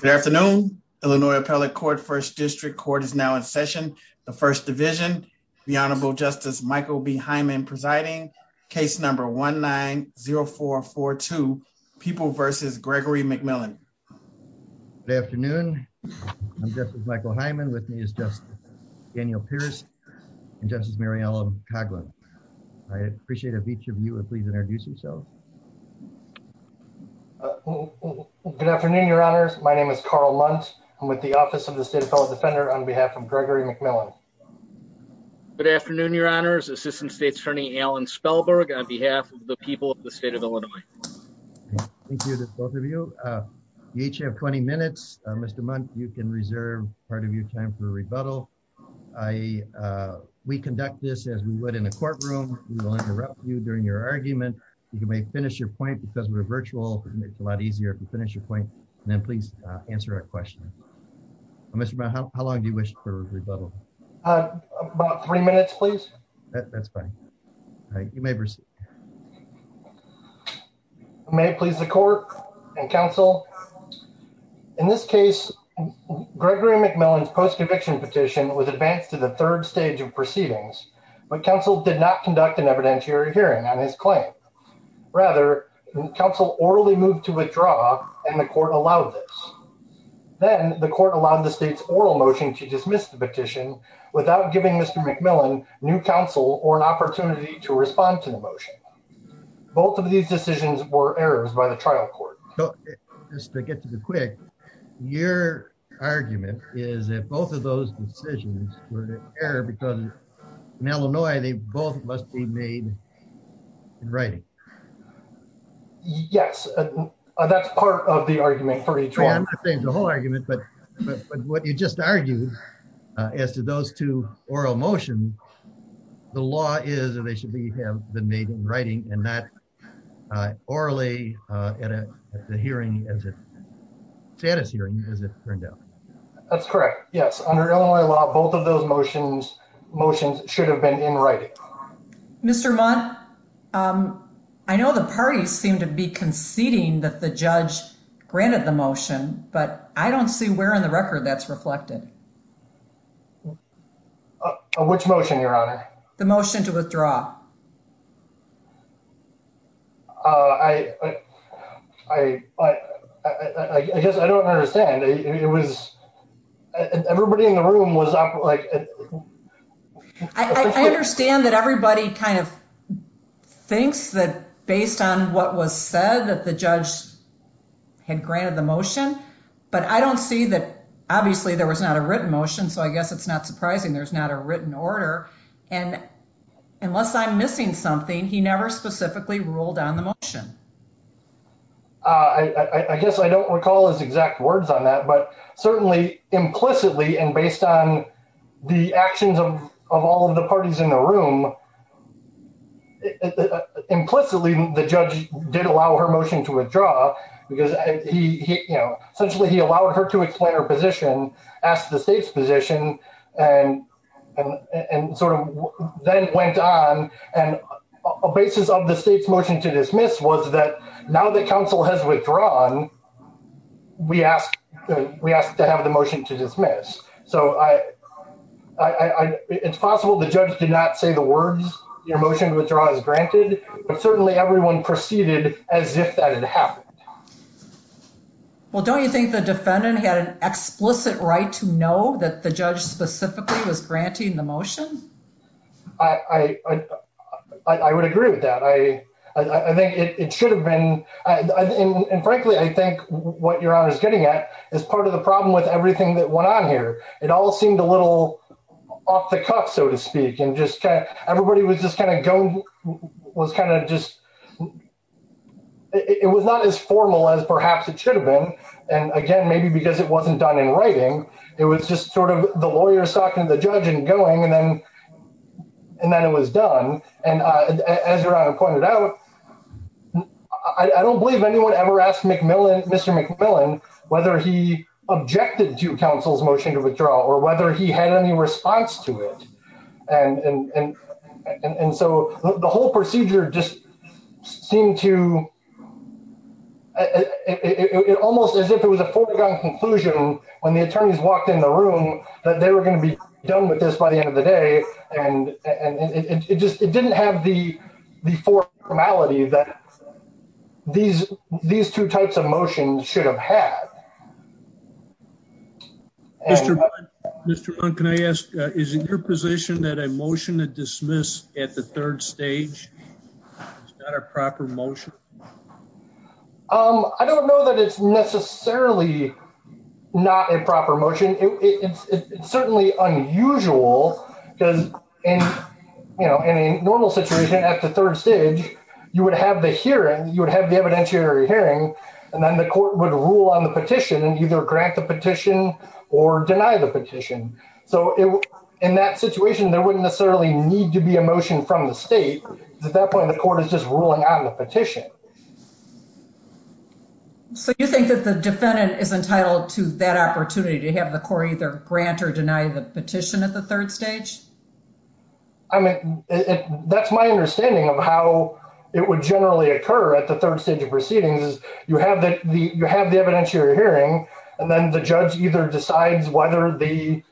Good afternoon. Illinois Appellate Court First District Court is now in session. The First Division, the Honorable Justice Michael B. Hyman presiding, case number 1-9-0442, People v. Gregory McMillan. Good afternoon. I'm Justice Michael Hyman. With me is Justice Daniel Pierce and Justice Mariella Coghlan. I appreciate if each of you would please introduce yourselves. Good afternoon, Your Honors. My name is Carl Mundt. I'm with the Office of the State Appellate Defender on behalf of Gregory McMillan. Good afternoon, Your Honors. Assistant State's Attorney Alan Spellberg on behalf of the people of the state of Illinois. Thank you to both of you. You each have 20 minutes. Mr. Mundt, you can reserve part of your time for rebuttal. We conduct this as we would in a courtroom. We will interrupt you during your argument. You may finish your point because we're virtual. It's a lot easier if you finish your point and then please answer our question. Mr. Mundt, how long do you wish for rebuttal? About three minutes, please. That's fine. You may proceed. You may please the court and counsel. In this case, Gregory McMillan's post-conviction petition was advanced to the third stage of proceedings, but counsel did not conduct an evidentiary hearing on his claim. Rather, counsel orally moved to withdraw and the court allowed this. Then, the court allowed the state's oral motion to dismiss the petition without giving Mr. McMillan new counsel or an opportunity to respond to the motion. Both of these decisions were errors by trial court. Just to get to the quick, your argument is that both of those decisions were an error because in Illinois, they both must be made in writing. Yes, that's part of the argument for each one. I'm not saying the whole argument, but what you just argued as to those two oral motions, the law is that they should have been made in writing and not orally at a status hearing, as it turned out. That's correct. Yes. Under Illinois law, both of those motions should have been in writing. Mr. Mundt, I know the parties seem to be conceding that the judge granted the motion, but I don't see where in the record that's reflected. Which motion, your honor? The motion to withdraw. I guess I don't understand. It was everybody in the room was up like... I understand that everybody kind of thinks that based on what was said that the judge had granted the motion, but I don't see that. Obviously, there was not a written motion, so I guess it's not surprising there's not a written order. Unless I'm missing something, he never specifically ruled on the motion. I guess I don't recall his exact words on that, but certainly implicitly and based on the actions of all of the parties in the room, implicitly, the judge did allow her motion to withdraw because essentially he allowed her to explain her position, asked the state's position, and sort of then went on. A basis of the state's motion to dismiss was that now that counsel has withdrawn, we asked to have the motion to dismiss. So, it's possible the judge did not say the words, your motion to withdraw is granted, but certainly everyone proceeded as if that had happened. Well, don't you think the defendant had an explicit right to know that the judge specifically was granting the motion? I would agree with that. I think it should have been... And frankly, I think what your honor is getting at is part of the problem with everything that it all seemed a little off the cuff, so to speak, and just everybody was just kind of going, was kind of just, it was not as formal as perhaps it should have been. And again, maybe because it wasn't done in writing, it was just sort of the lawyer talking to the judge and going and then it was done. And as your honor pointed out, I don't believe anyone ever asked Mr. McMillan whether he objected to counsel's motion to withdraw or whether he had any response to it. And so, the whole procedure just seemed to... It almost as if it was a foregone conclusion when the attorneys walked in the room that they were going to be done with this by the end of the day. And it just, it didn't have the formality that these two types of motions should have had. Mr. Bunn, can I ask, is it your position that a motion to dismiss at the third stage is not a proper motion? I don't know that it's necessarily not a proper motion. It's certainly unusual because in a normal situation at the third stage, you would have the hearing, you would have the evidentiary hearing, and then the court would rule on the petition and either grant the petition or deny the petition. So, in that situation, there wouldn't necessarily need to be a motion from the state. At that point, the court is just entitled to that opportunity to have the court either grant or deny the petition at the third stage? I mean, that's my understanding of how it would generally occur at the third stage of proceedings is you have the evidentiary hearing, and then the judge either decides whether the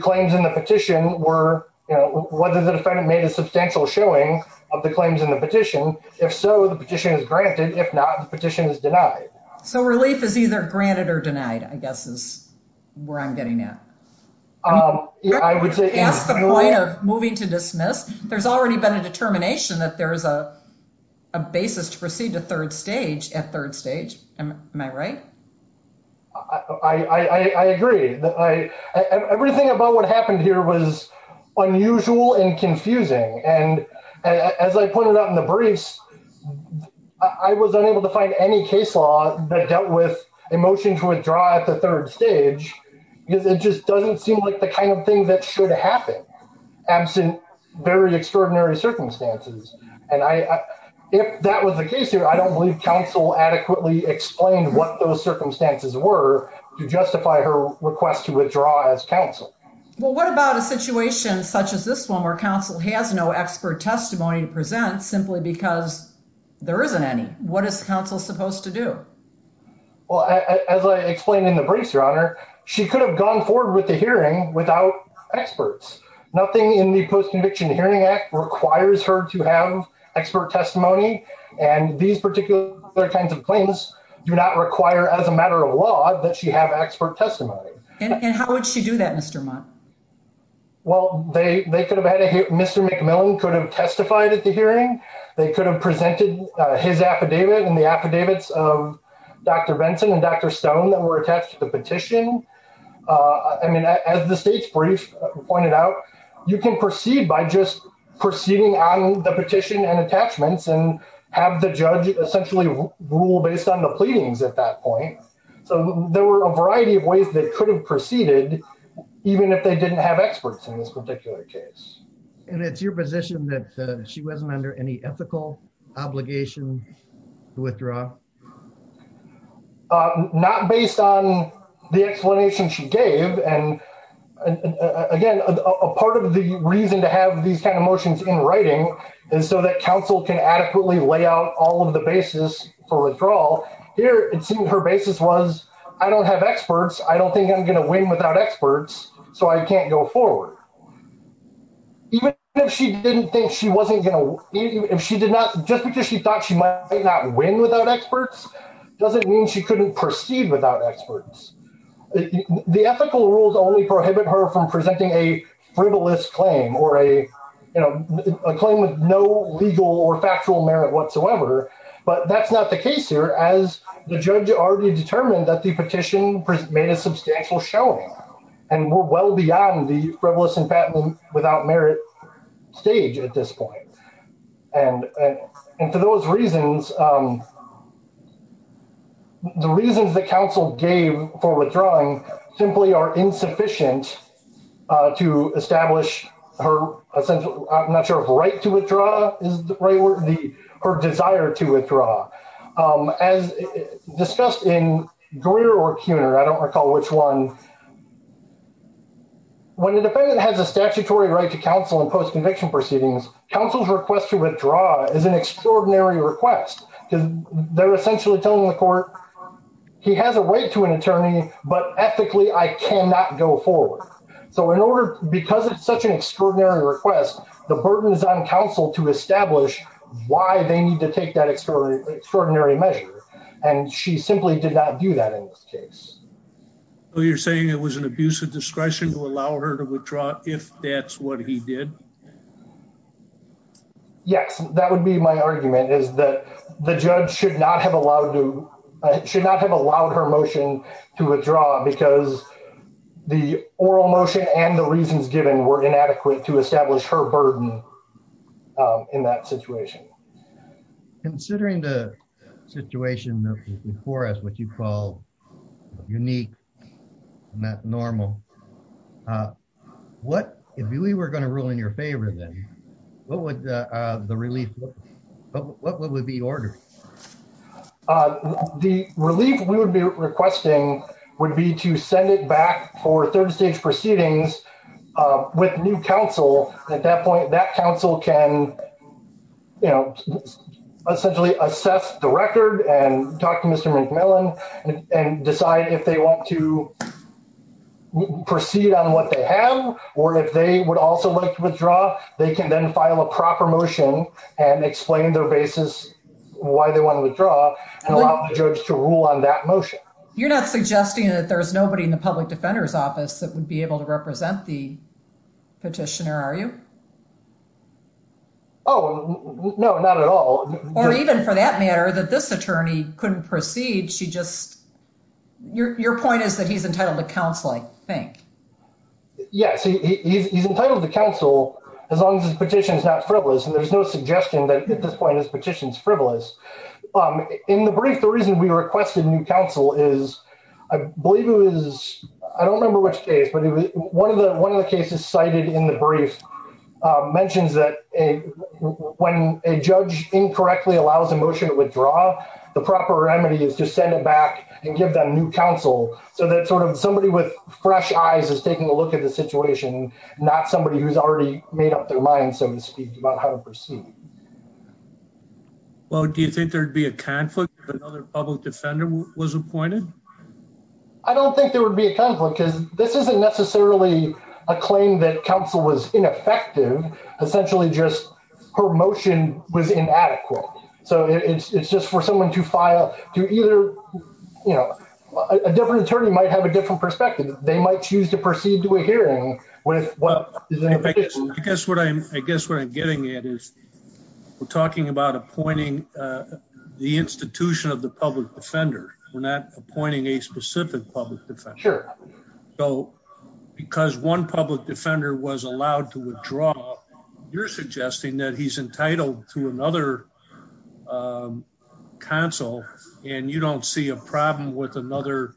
claims in the petition were... Whether the defendant made a substantial showing of the claims in the petition. If so, the petition is granted. If not, the petition is denied. So, relief is either granted or denied, I guess is where I'm getting at. I would say... That's the point of moving to dismiss. There's already been a determination that there's a basis to proceed to third stage at third stage. Am I right? I agree. Everything about what happened here was unusual and confusing. And as I pointed out in the briefs, I was unable to find any case law that dealt with a motion to withdraw at the third stage because it just doesn't seem like the kind of thing that should happen, absent very extraordinary circumstances. And if that was the case here, I don't believe counsel adequately explained what those circumstances were to justify her request to withdraw as counsel. Well, what about a situation such as this one where counsel has no expert testimony to present simply because there isn't any? What is counsel supposed to do? Well, as I explained in the briefs, Your Honor, she could have gone forward with the hearing without experts. Nothing in the Post-Conviction Hearing Act requires her to have expert testimony. And these particular kinds of claims do not require, as a matter of law, that she have expert testimony. And how would she do that, Mr. Mott? Well, they could have had a, Mr. McMillan could have testified at the hearing. They could have presented his affidavit and the affidavits of Dr. Benson and Dr. Stone that were attached to the petition. I mean, as the state's brief pointed out, you can proceed by just proceeding on the petition and attachments and have the judge essentially rule based on the pleadings at that hearing. But they didn't have experts in this particular case. And it's your position that she wasn't under any ethical obligation to withdraw? Not based on the explanation she gave. And again, a part of the reason to have these kind of motions in writing is so that counsel can adequately lay out all of the basis for withdrawal. Here, it seemed her basis was, I don't have experts. I don't think I'm going to win without experts. So I can't go forward. Even if she didn't think she wasn't going to, if she did not, just because she thought she might not win without experts, doesn't mean she couldn't proceed without experts. The ethical rules only prohibit her from presenting a frivolous claim or a claim with no legal or factual merit whatsoever. But that's not the case here, as the judge already determined that the petition made a substantial showing. And we're well beyond the frivolous and patent without merit stage at this point. And for those reasons, the reasons that counsel gave for withdrawing simply are insufficient to establish her, I'm not sure if right to withdraw is the right word, her desire to withdraw. As discussed in Greer or Cuner, I don't recall which one, when the defendant has a statutory right to counsel in post-conviction proceedings, counsel's request to withdraw is an extraordinary request. Because they're essentially telling the court, he has a right to an attorney, but ethically, I cannot go forward. So in order, because it's such an extraordinary request, the burden is on counsel to establish why they need to take that extraordinary measure. And she simply did not do that in this case. So you're saying it was an abuse of discretion to allow her to withdraw if that's what he did? Yes, that would be my argument is that the judge should not have allowed her motion to withdraw because the oral motion and the reasons given were inadequate to establish her burden in that situation. Considering the situation before us, what you call unique, not normal, if we were going to rule in your favor then, what would the relief, what would be ordered? The relief we would be requesting would be to send it back for third stage proceedings with new counsel. At that point, that counsel can, you know, essentially assess the record and talk to Mr. McMillan and decide if they want to proceed on what they have, or if they would also like to withdraw, they can then file a proper motion and explain their basis why they want to withdraw and allow the judge to rule on that motion. You're not suggesting that there's nobody in the public defender's office that would be able to represent the petitioner, are you? Oh, no, not at all. Or even for that matter, that this attorney couldn't proceed, she just, your point is that he's entitled to counsel, I think. Yes, he's entitled to counsel as long as his petition is not frivolous, and there's no suggestion that at this point his petition is frivolous. In the brief, the reason we requested new counsel is, I believe it was, I don't remember which case, but one of the cases cited in the brief mentions that when a judge incorrectly allows a motion to withdraw, the proper remedy is to send it back and give them new counsel, so that sort of somebody with fresh eyes is taking a look at the situation, not somebody who's already made up their mind, so to speak, about how to proceed. Well, do you think there'd be a conflict if another public defender was appointed? I don't think there would be a conflict, because this isn't necessarily a claim that counsel was either, you know, a different attorney might have a different perspective. They might choose to proceed to a hearing with what... I guess what I'm getting at is we're talking about appointing the institution of the public defender. We're not appointing a specific public defender. Sure. So, because one public defender was allowed to withdraw, you're suggesting that he's entitled to another counsel, and you don't see a problem with another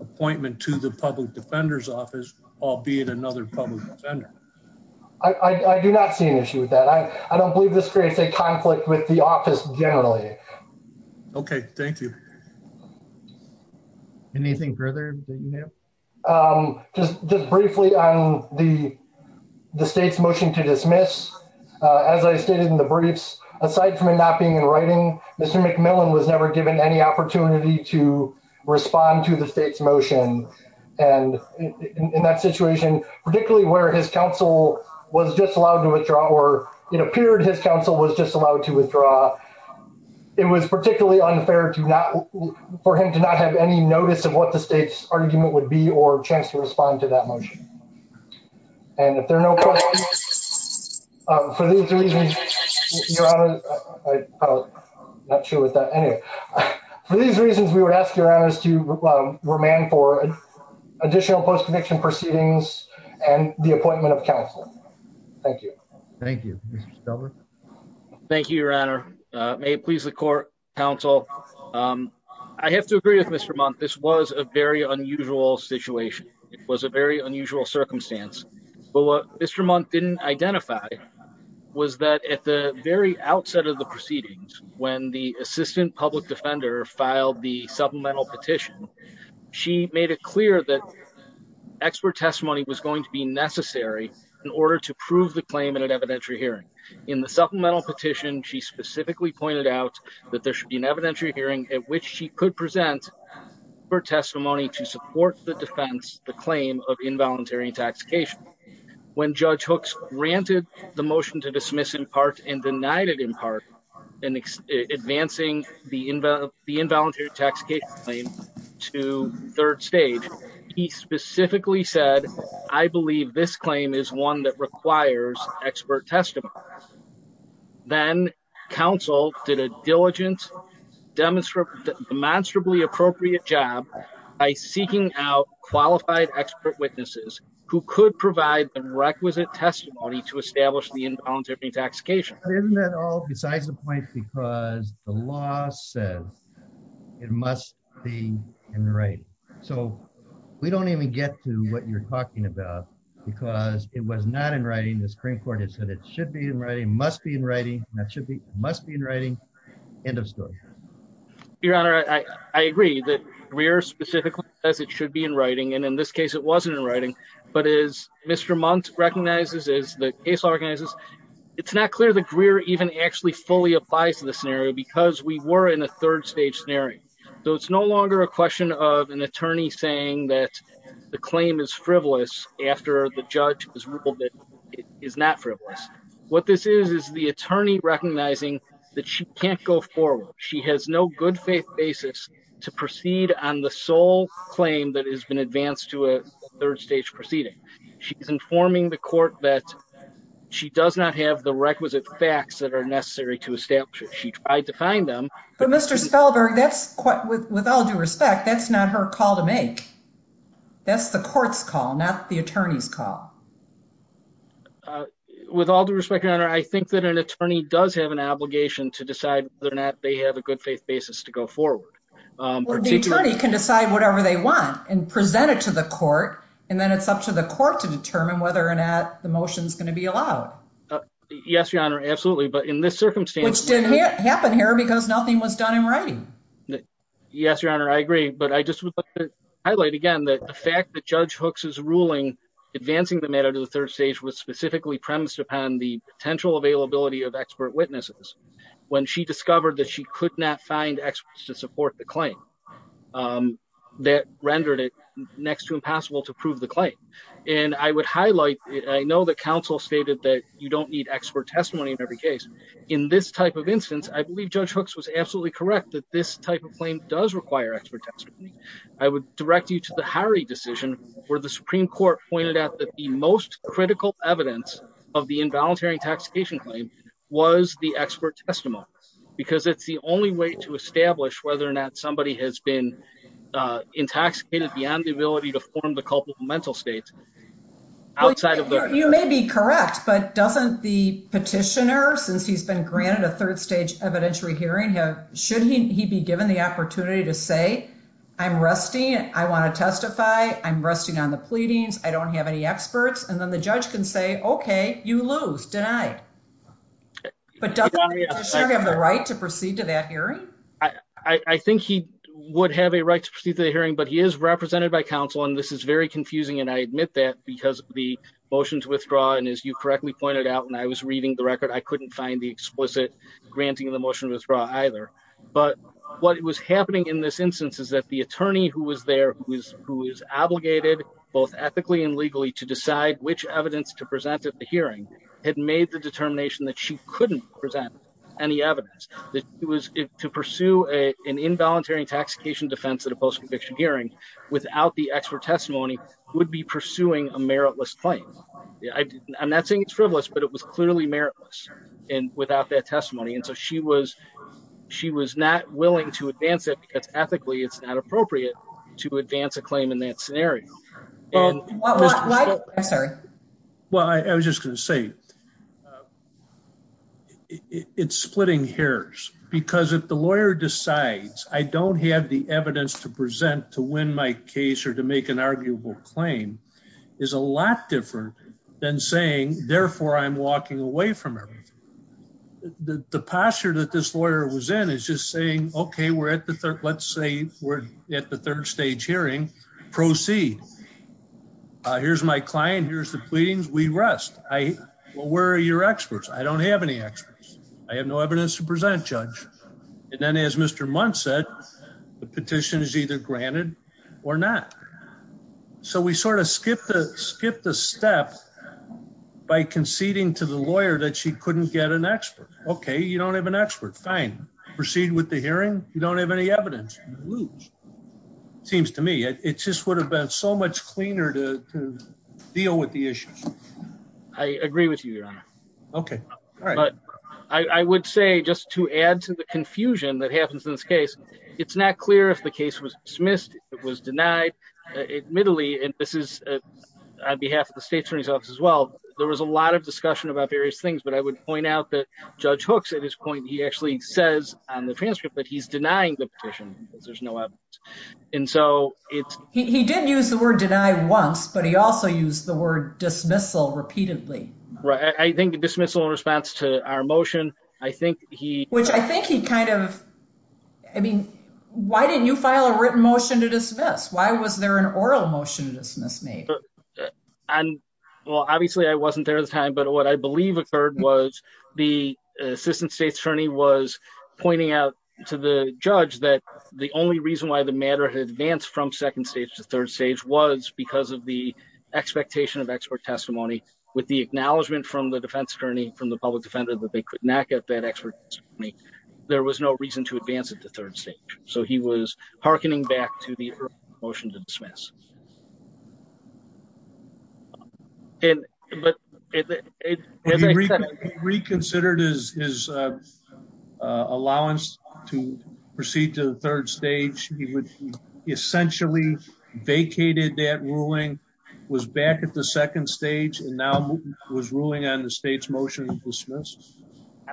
appointment to the public defender's office, albeit another public defender? I do not see an issue with that. I don't believe this creates a conflict with the office generally. Okay, thank you. Anything further that you have? Just briefly on the state's motion to dismiss, as I stated in the briefs, aside from it not being in writing, Mr. McMillan was never given any opportunity to respond to the state's motion, and in that situation, particularly where his counsel was just allowed to withdraw, or it appeared his counsel was just allowed to withdraw, it was particularly unfair for him to not have any notice of what the state's argument would be or chance to respond to that motion. And if there are no further... For these reasons, Your Honor... I'm not sure with that. Anyway, for these reasons, we would ask Your Honor to remand for additional post-conviction proceedings and the appointment of counsel. Thank you. Thank you. Mr. Stelberg? Thank you, Your Honor. May it please the court, counsel. I have to agree with Mr. Mundt. This was a very unusual situation. It was a very unusual circumstance. But what Mr. Mundt didn't identify was that at the very outset of the proceedings, when the assistant public defender filed the supplemental petition, she made it clear that expert testimony was going to be necessary in order to prove the claim in an evidentiary hearing. In the supplemental petition, she specifically pointed out that there should be an evidentiary hearing at which she could present her testimony to support the defense, the claim of involuntary intoxication. When Judge Hooks granted the motion to dismiss in part and denied it in part, and advancing the involuntary intoxication claim to third stage, he specifically said, I believe this claim is one that requires expert testimony. Then counsel did a diligent, demonstrably appropriate job by seeking out qualified expert witnesses who could provide the requisite testimony to establish the involuntary intoxication. But isn't that all besides the point because the law says it must be in writing. So we don't even get to what you're talking about because it was not in writing. The Supreme Court has said it should be in writing, must be in writing, must be in writing, end of story. Your Honor, I agree that Greer specifically says it should be in writing. And in this case, it wasn't in writing. But as Mr. Mundt recognizes, as the case organizes, it's not clear that Greer even actually fully applies to the scenario because we were in a third stage scenario. So it's no longer a question of an attorney saying that the claim is frivolous after the judge has ruled that it is not frivolous. What this is, is the attorney recognizing that she can't go forward. She has no good faith basis to proceed on the sole claim that has been advanced to a third stage proceeding. She's informing the court that she does not have the requisite facts that are necessary to establish. She tried to find them. But Mr. Spellberg, that's quite, with all due respect, that's not her call to make. That's the court's call, not the attorney's call. With all due respect, Your Honor, I think that an attorney does have an obligation to decide whether or not they have a good faith basis to go forward. The attorney can decide whatever they want and present it to the court, and then it's up to the court to determine whether or not the motion is going to be allowed. Yes, Your Honor, absolutely. But in this circumstance... Which didn't happen here because nothing was done in writing. Yes, Your Honor, I agree. But I just would like to highlight again that the fact that Judge Hooks' ruling advancing the matter to the third stage was specifically premised upon the potential availability of expert witnesses. When she discovered that she could not find experts to support the claim, that rendered it next to impossible to prove the claim. And I would highlight, I know that counsel stated that you don't need expert testimony in every case. In this type of instance, I believe Judge Hooks was absolutely correct that this type of claim does require expert testimony. I would direct you to the Harry decision where the Supreme Court pointed out that the most critical evidence of the involuntary intoxication claim was the expert testimony, because it's the only way to establish whether or not somebody has been intoxicated beyond the ability to form the culpable mental state outside of the... You may be correct, but doesn't the petitioner, since he's been granted a third stage evidentiary hearing, should he be given the opportunity to say, I'm resting, I want to testify, I'm resting on the pleadings, I don't have any experts, and then the judge can say, okay, you lose, denied. But doesn't the petitioner have the right to proceed to that hearing? I think he would have a right to proceed to the hearing, but he is represented by counsel, and this is very confusing, and I admit that because of the motion to withdraw, and as you correctly pointed out, when I was reading the record, I couldn't find the explicit granting of the motion to withdraw either. But what was happening in this instance is that the attorney who was there, who is obligated both ethically and legally to decide which evidence to present at the hearing, had made the determination that she couldn't present any evidence, that it was to pursue an involuntary intoxication defense at a post-conviction hearing without the expert testimony would be pursuing a meritless claim. I'm not saying it's frivolous, but it was clearly meritless without that testimony, and so she was not willing to advance it because ethically, it's not appropriate to advance a claim in that scenario. I'm sorry. Well, I was just going to say it's splitting hairs because if the lawyer decides I don't have the evidence to present to win my case or to make an arguable claim is a lot different than saying, therefore, I'm walking away from everything. The posture that this lawyer was in is just saying, okay, we're at the third, let's say we're at the third stage hearing, proceed. Here's my client. Here's the pleadings. We rest. Well, where are your experts? I don't have any experts. I have no evidence to present, judge. And then as Mr. Muntz said, the petition is either granted or not. So we sort of skip the step by conceding to the lawyer that she couldn't get an expert. Okay, you don't have an expert. Fine. Proceed with the hearing. You don't have any evidence. You lose, seems to me. It just would have been so much cleaner to deal with the issues. I agree with you, your honor. Okay. All right. But I would say just to add to the confusion that happens in this case, it's not clear if the case was dismissed, it was denied. Admittedly, and this is on behalf of the state attorney's office as well. There was a lot of discussion about various things, but I would point out that judge hooks at this point, he actually says on the transcript that he's denying the petition because there's no evidence. And so it's- He did use the word deny once, but he also used the word dismissal repeatedly. Right. I think the dismissal in response to our motion, I think he- Which I think he kind of, I mean, why didn't you file a written motion to dismiss? Why was there an oral motion to dismiss me? And well, obviously I wasn't there at the time, but what I believe occurred was the assistant state attorney was pointing out to the judge that the only reason why the matter had advanced from second stage to third stage was because of the expectation of expert testimony with the acknowledgement from the defense attorney, from the public defender that they could not get that expert. There was no reason to advance it to third stage. So he was hearkening back to the motion to dismiss. He reconsidered his allowance to proceed to the third stage. He essentially vacated that ruling, was back at the second stage and now was ruling on the state's motion to dismiss.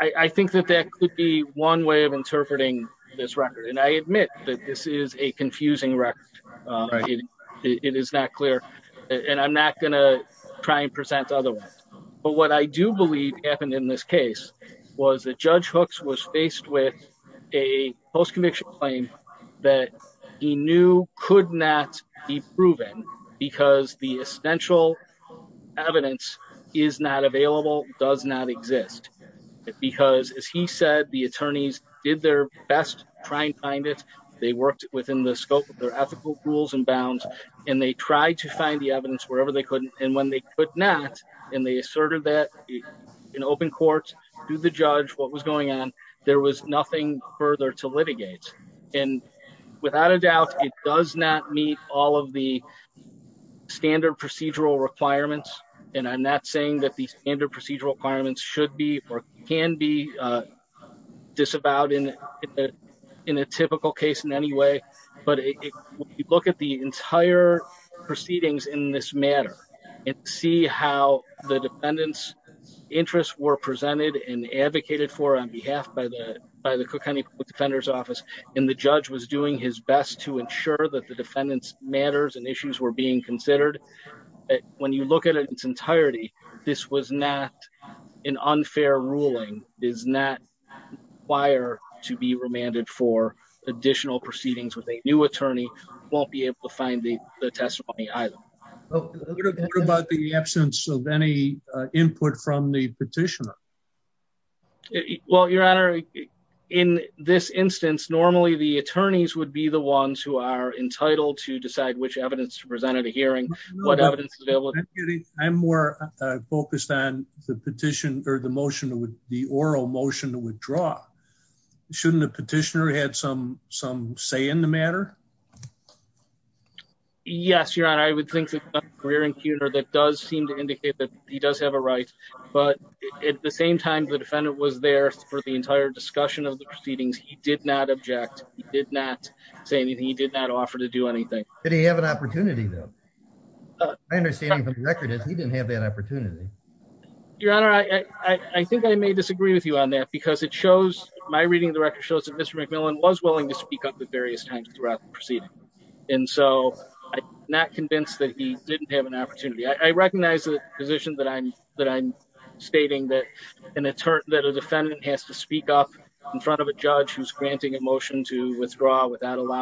I think that that could be one way of interpreting this record. And I admit that this is a confusing record. It is not clear and I'm not going to try and present otherwise. But what I do believe happened in this case was that Judge Hooks was faced with a post-conviction claim that he knew could not be proven because the essential evidence is not available, does not work within the scope of their ethical rules and bounds. And they tried to find the evidence wherever they could. And when they could not, and they asserted that in open court to the judge, what was going on, there was nothing further to litigate. And without a doubt, it does not meet all of the standard procedural requirements. And I'm not saying that the standard procedural requirements should be or can be disavowed in a typical case in any way. But if you look at the entire proceedings in this matter and see how the defendant's interests were presented and advocated for on behalf by the Cook County Public Defender's Office, and the judge was doing his best to ensure that the defendant's matters and issues were being considered. When you look at its entirety, this was not an unfair ruling, does not require to be remanded for additional proceedings with a new attorney, won't be able to find the testimony either. What about the absence of any input from the petitioner? Well, Your Honor, in this instance, normally the attorneys would be the ones who are entitled to focus on the oral motion to withdraw. Shouldn't the petitioner had some say in the matter? Yes, Your Honor, I would think that the career impugner that does seem to indicate that he does have a right. But at the same time, the defendant was there for the entire discussion of the proceedings. He did not object. He did not say anything. He did not offer to do anything. Did he have an opportunity though? My understanding from the record is he didn't have that opportunity. Your Honor, I think I may disagree with you on that because it shows, my reading of the record shows that Mr. McMillan was willing to speak up at various times throughout the proceeding. And so I'm not convinced that he didn't have an opportunity. I recognize the position that I'm stating that a defendant has to speak up in front of a judge who's granting a recognition.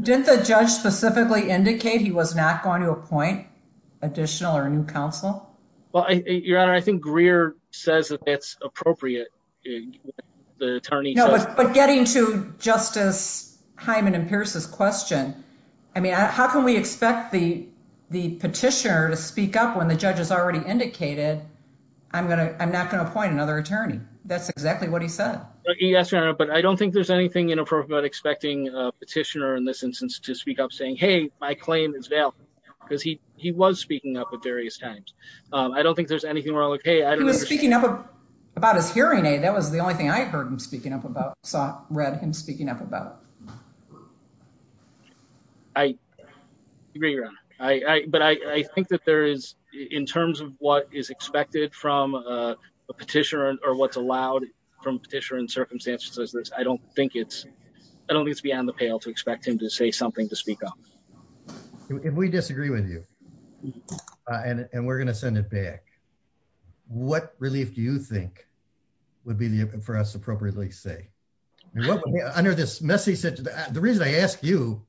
Did the judge specifically indicate he was not going to appoint additional or new counsel? Well, Your Honor, I think Greer says that that's appropriate. The attorney, but getting to Justice Hyman and Pierce's question, I mean, how can we expect the petitioner to speak up when the judge has already indicated? I'm not going to appoint another attorney. That's exactly what he said. Yes, Your Honor, but I don't think there's anything inappropriate about expecting a petitioner in this instance to speak up saying, hey, my claim is valid because he was speaking up at various times. I don't think there's anything wrong with, hey, I don't understand. He was speaking up about his hearing aid. That was the only thing I heard him speaking up about, saw, read him speaking up about. I agree, Your Honor. But I think that there is, in terms of what is expected from a petitioner or what's allowed from a petitioner in circumstances such as this, I don't think it's, I don't think it's beyond the pale to expect him to say something to speak up. If we disagree with you and we're going to send it back, what relief do you think would be for us to appropriately say? Under this messy situation, the reason I ask you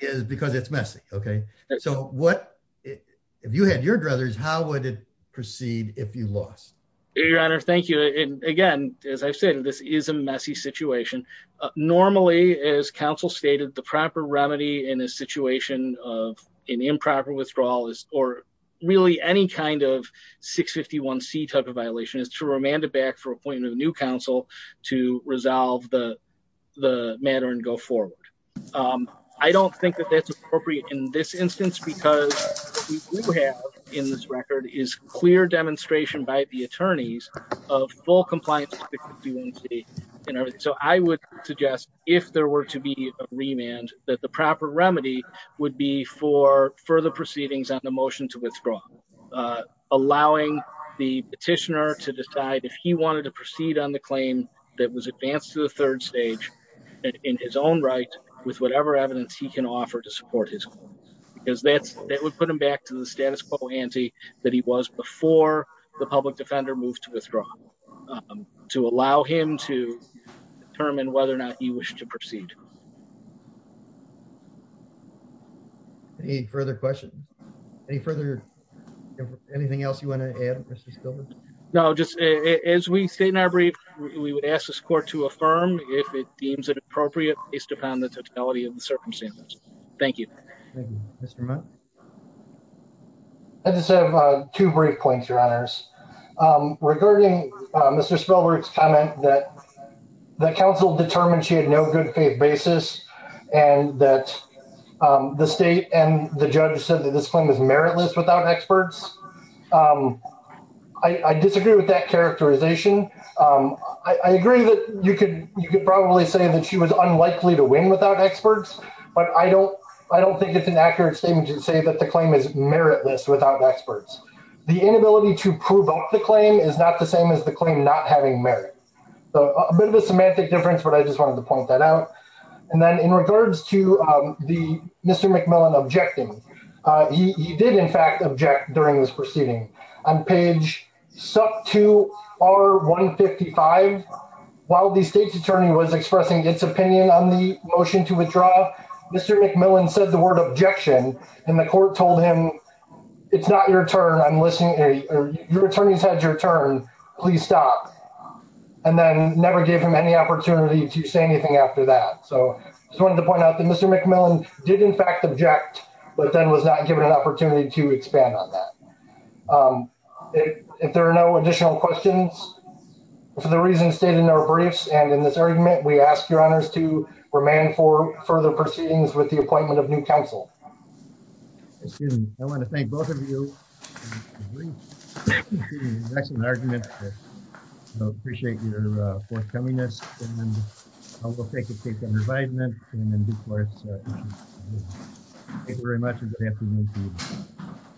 is because it's messy, okay? So what, if you had your druthers, how would it proceed if you lost? Your Honor, thank you. And again, as I've said, this is a messy situation. Normally, as counsel stated, the proper remedy in a situation of an improper withdrawal is, or really any kind of 651 C type of violation is to remand it back for appointing a new counsel to resolve the matter and go forward. I don't think that that's appropriate in this instance, because what we do have in this record is clear demonstration by the attorneys of full compliance with 651 C. So I would suggest if there were to be a remand, that the proper remedy would be for further proceedings on the motion to withdraw, allowing the petitioner to decide if he wanted to proceed on the claim that was advanced to the third stage in his own right, with whatever evidence he can offer to support his cause. Because that's, that would put him back to the status quo ante that he was before the public defender moved to withdraw, to allow him to determine whether or not he wished to proceed. Any further questions? Any further, anything else you want to add, Mr. Stiller? No, just as we state in our brief, we would ask this in the circumstances. Thank you. Mr. Mott. I just have two brief points, Your Honors. Regarding Mr. Spelberg's comment that the counsel determined she had no good faith basis, and that the state and the judge said that this claim is meritless without experts. I disagree with that characterization. I agree that you could probably say that she was unlikely to win without experts, but I don't, I don't think it's an accurate statement to say that the claim is meritless without experts. The inability to prove up the claim is not the same as the claim not having merit. So a bit of a semantic difference, but I just wanted to point that out. And then in regards to the Mr. McMillan objecting, he did in fact object during this motion to withdraw. Mr. McMillan said the word objection, and the court told him, it's not your turn. I'm listening. Your attorney's had your turn. Please stop. And then never gave him any opportunity to say anything after that. So I just wanted to point out that Mr. McMillan did in fact object, but then was not given an opportunity to expand on that. If there are no additional questions, for the reasons stated in our briefs and in this argument, we ask your honors to remain for further proceedings with the appointment of new counsel. Excuse me. I want to thank both of you. That's an argument. I appreciate your forthcomingness and then I will take a case on revival and then do courts. Thank you very much.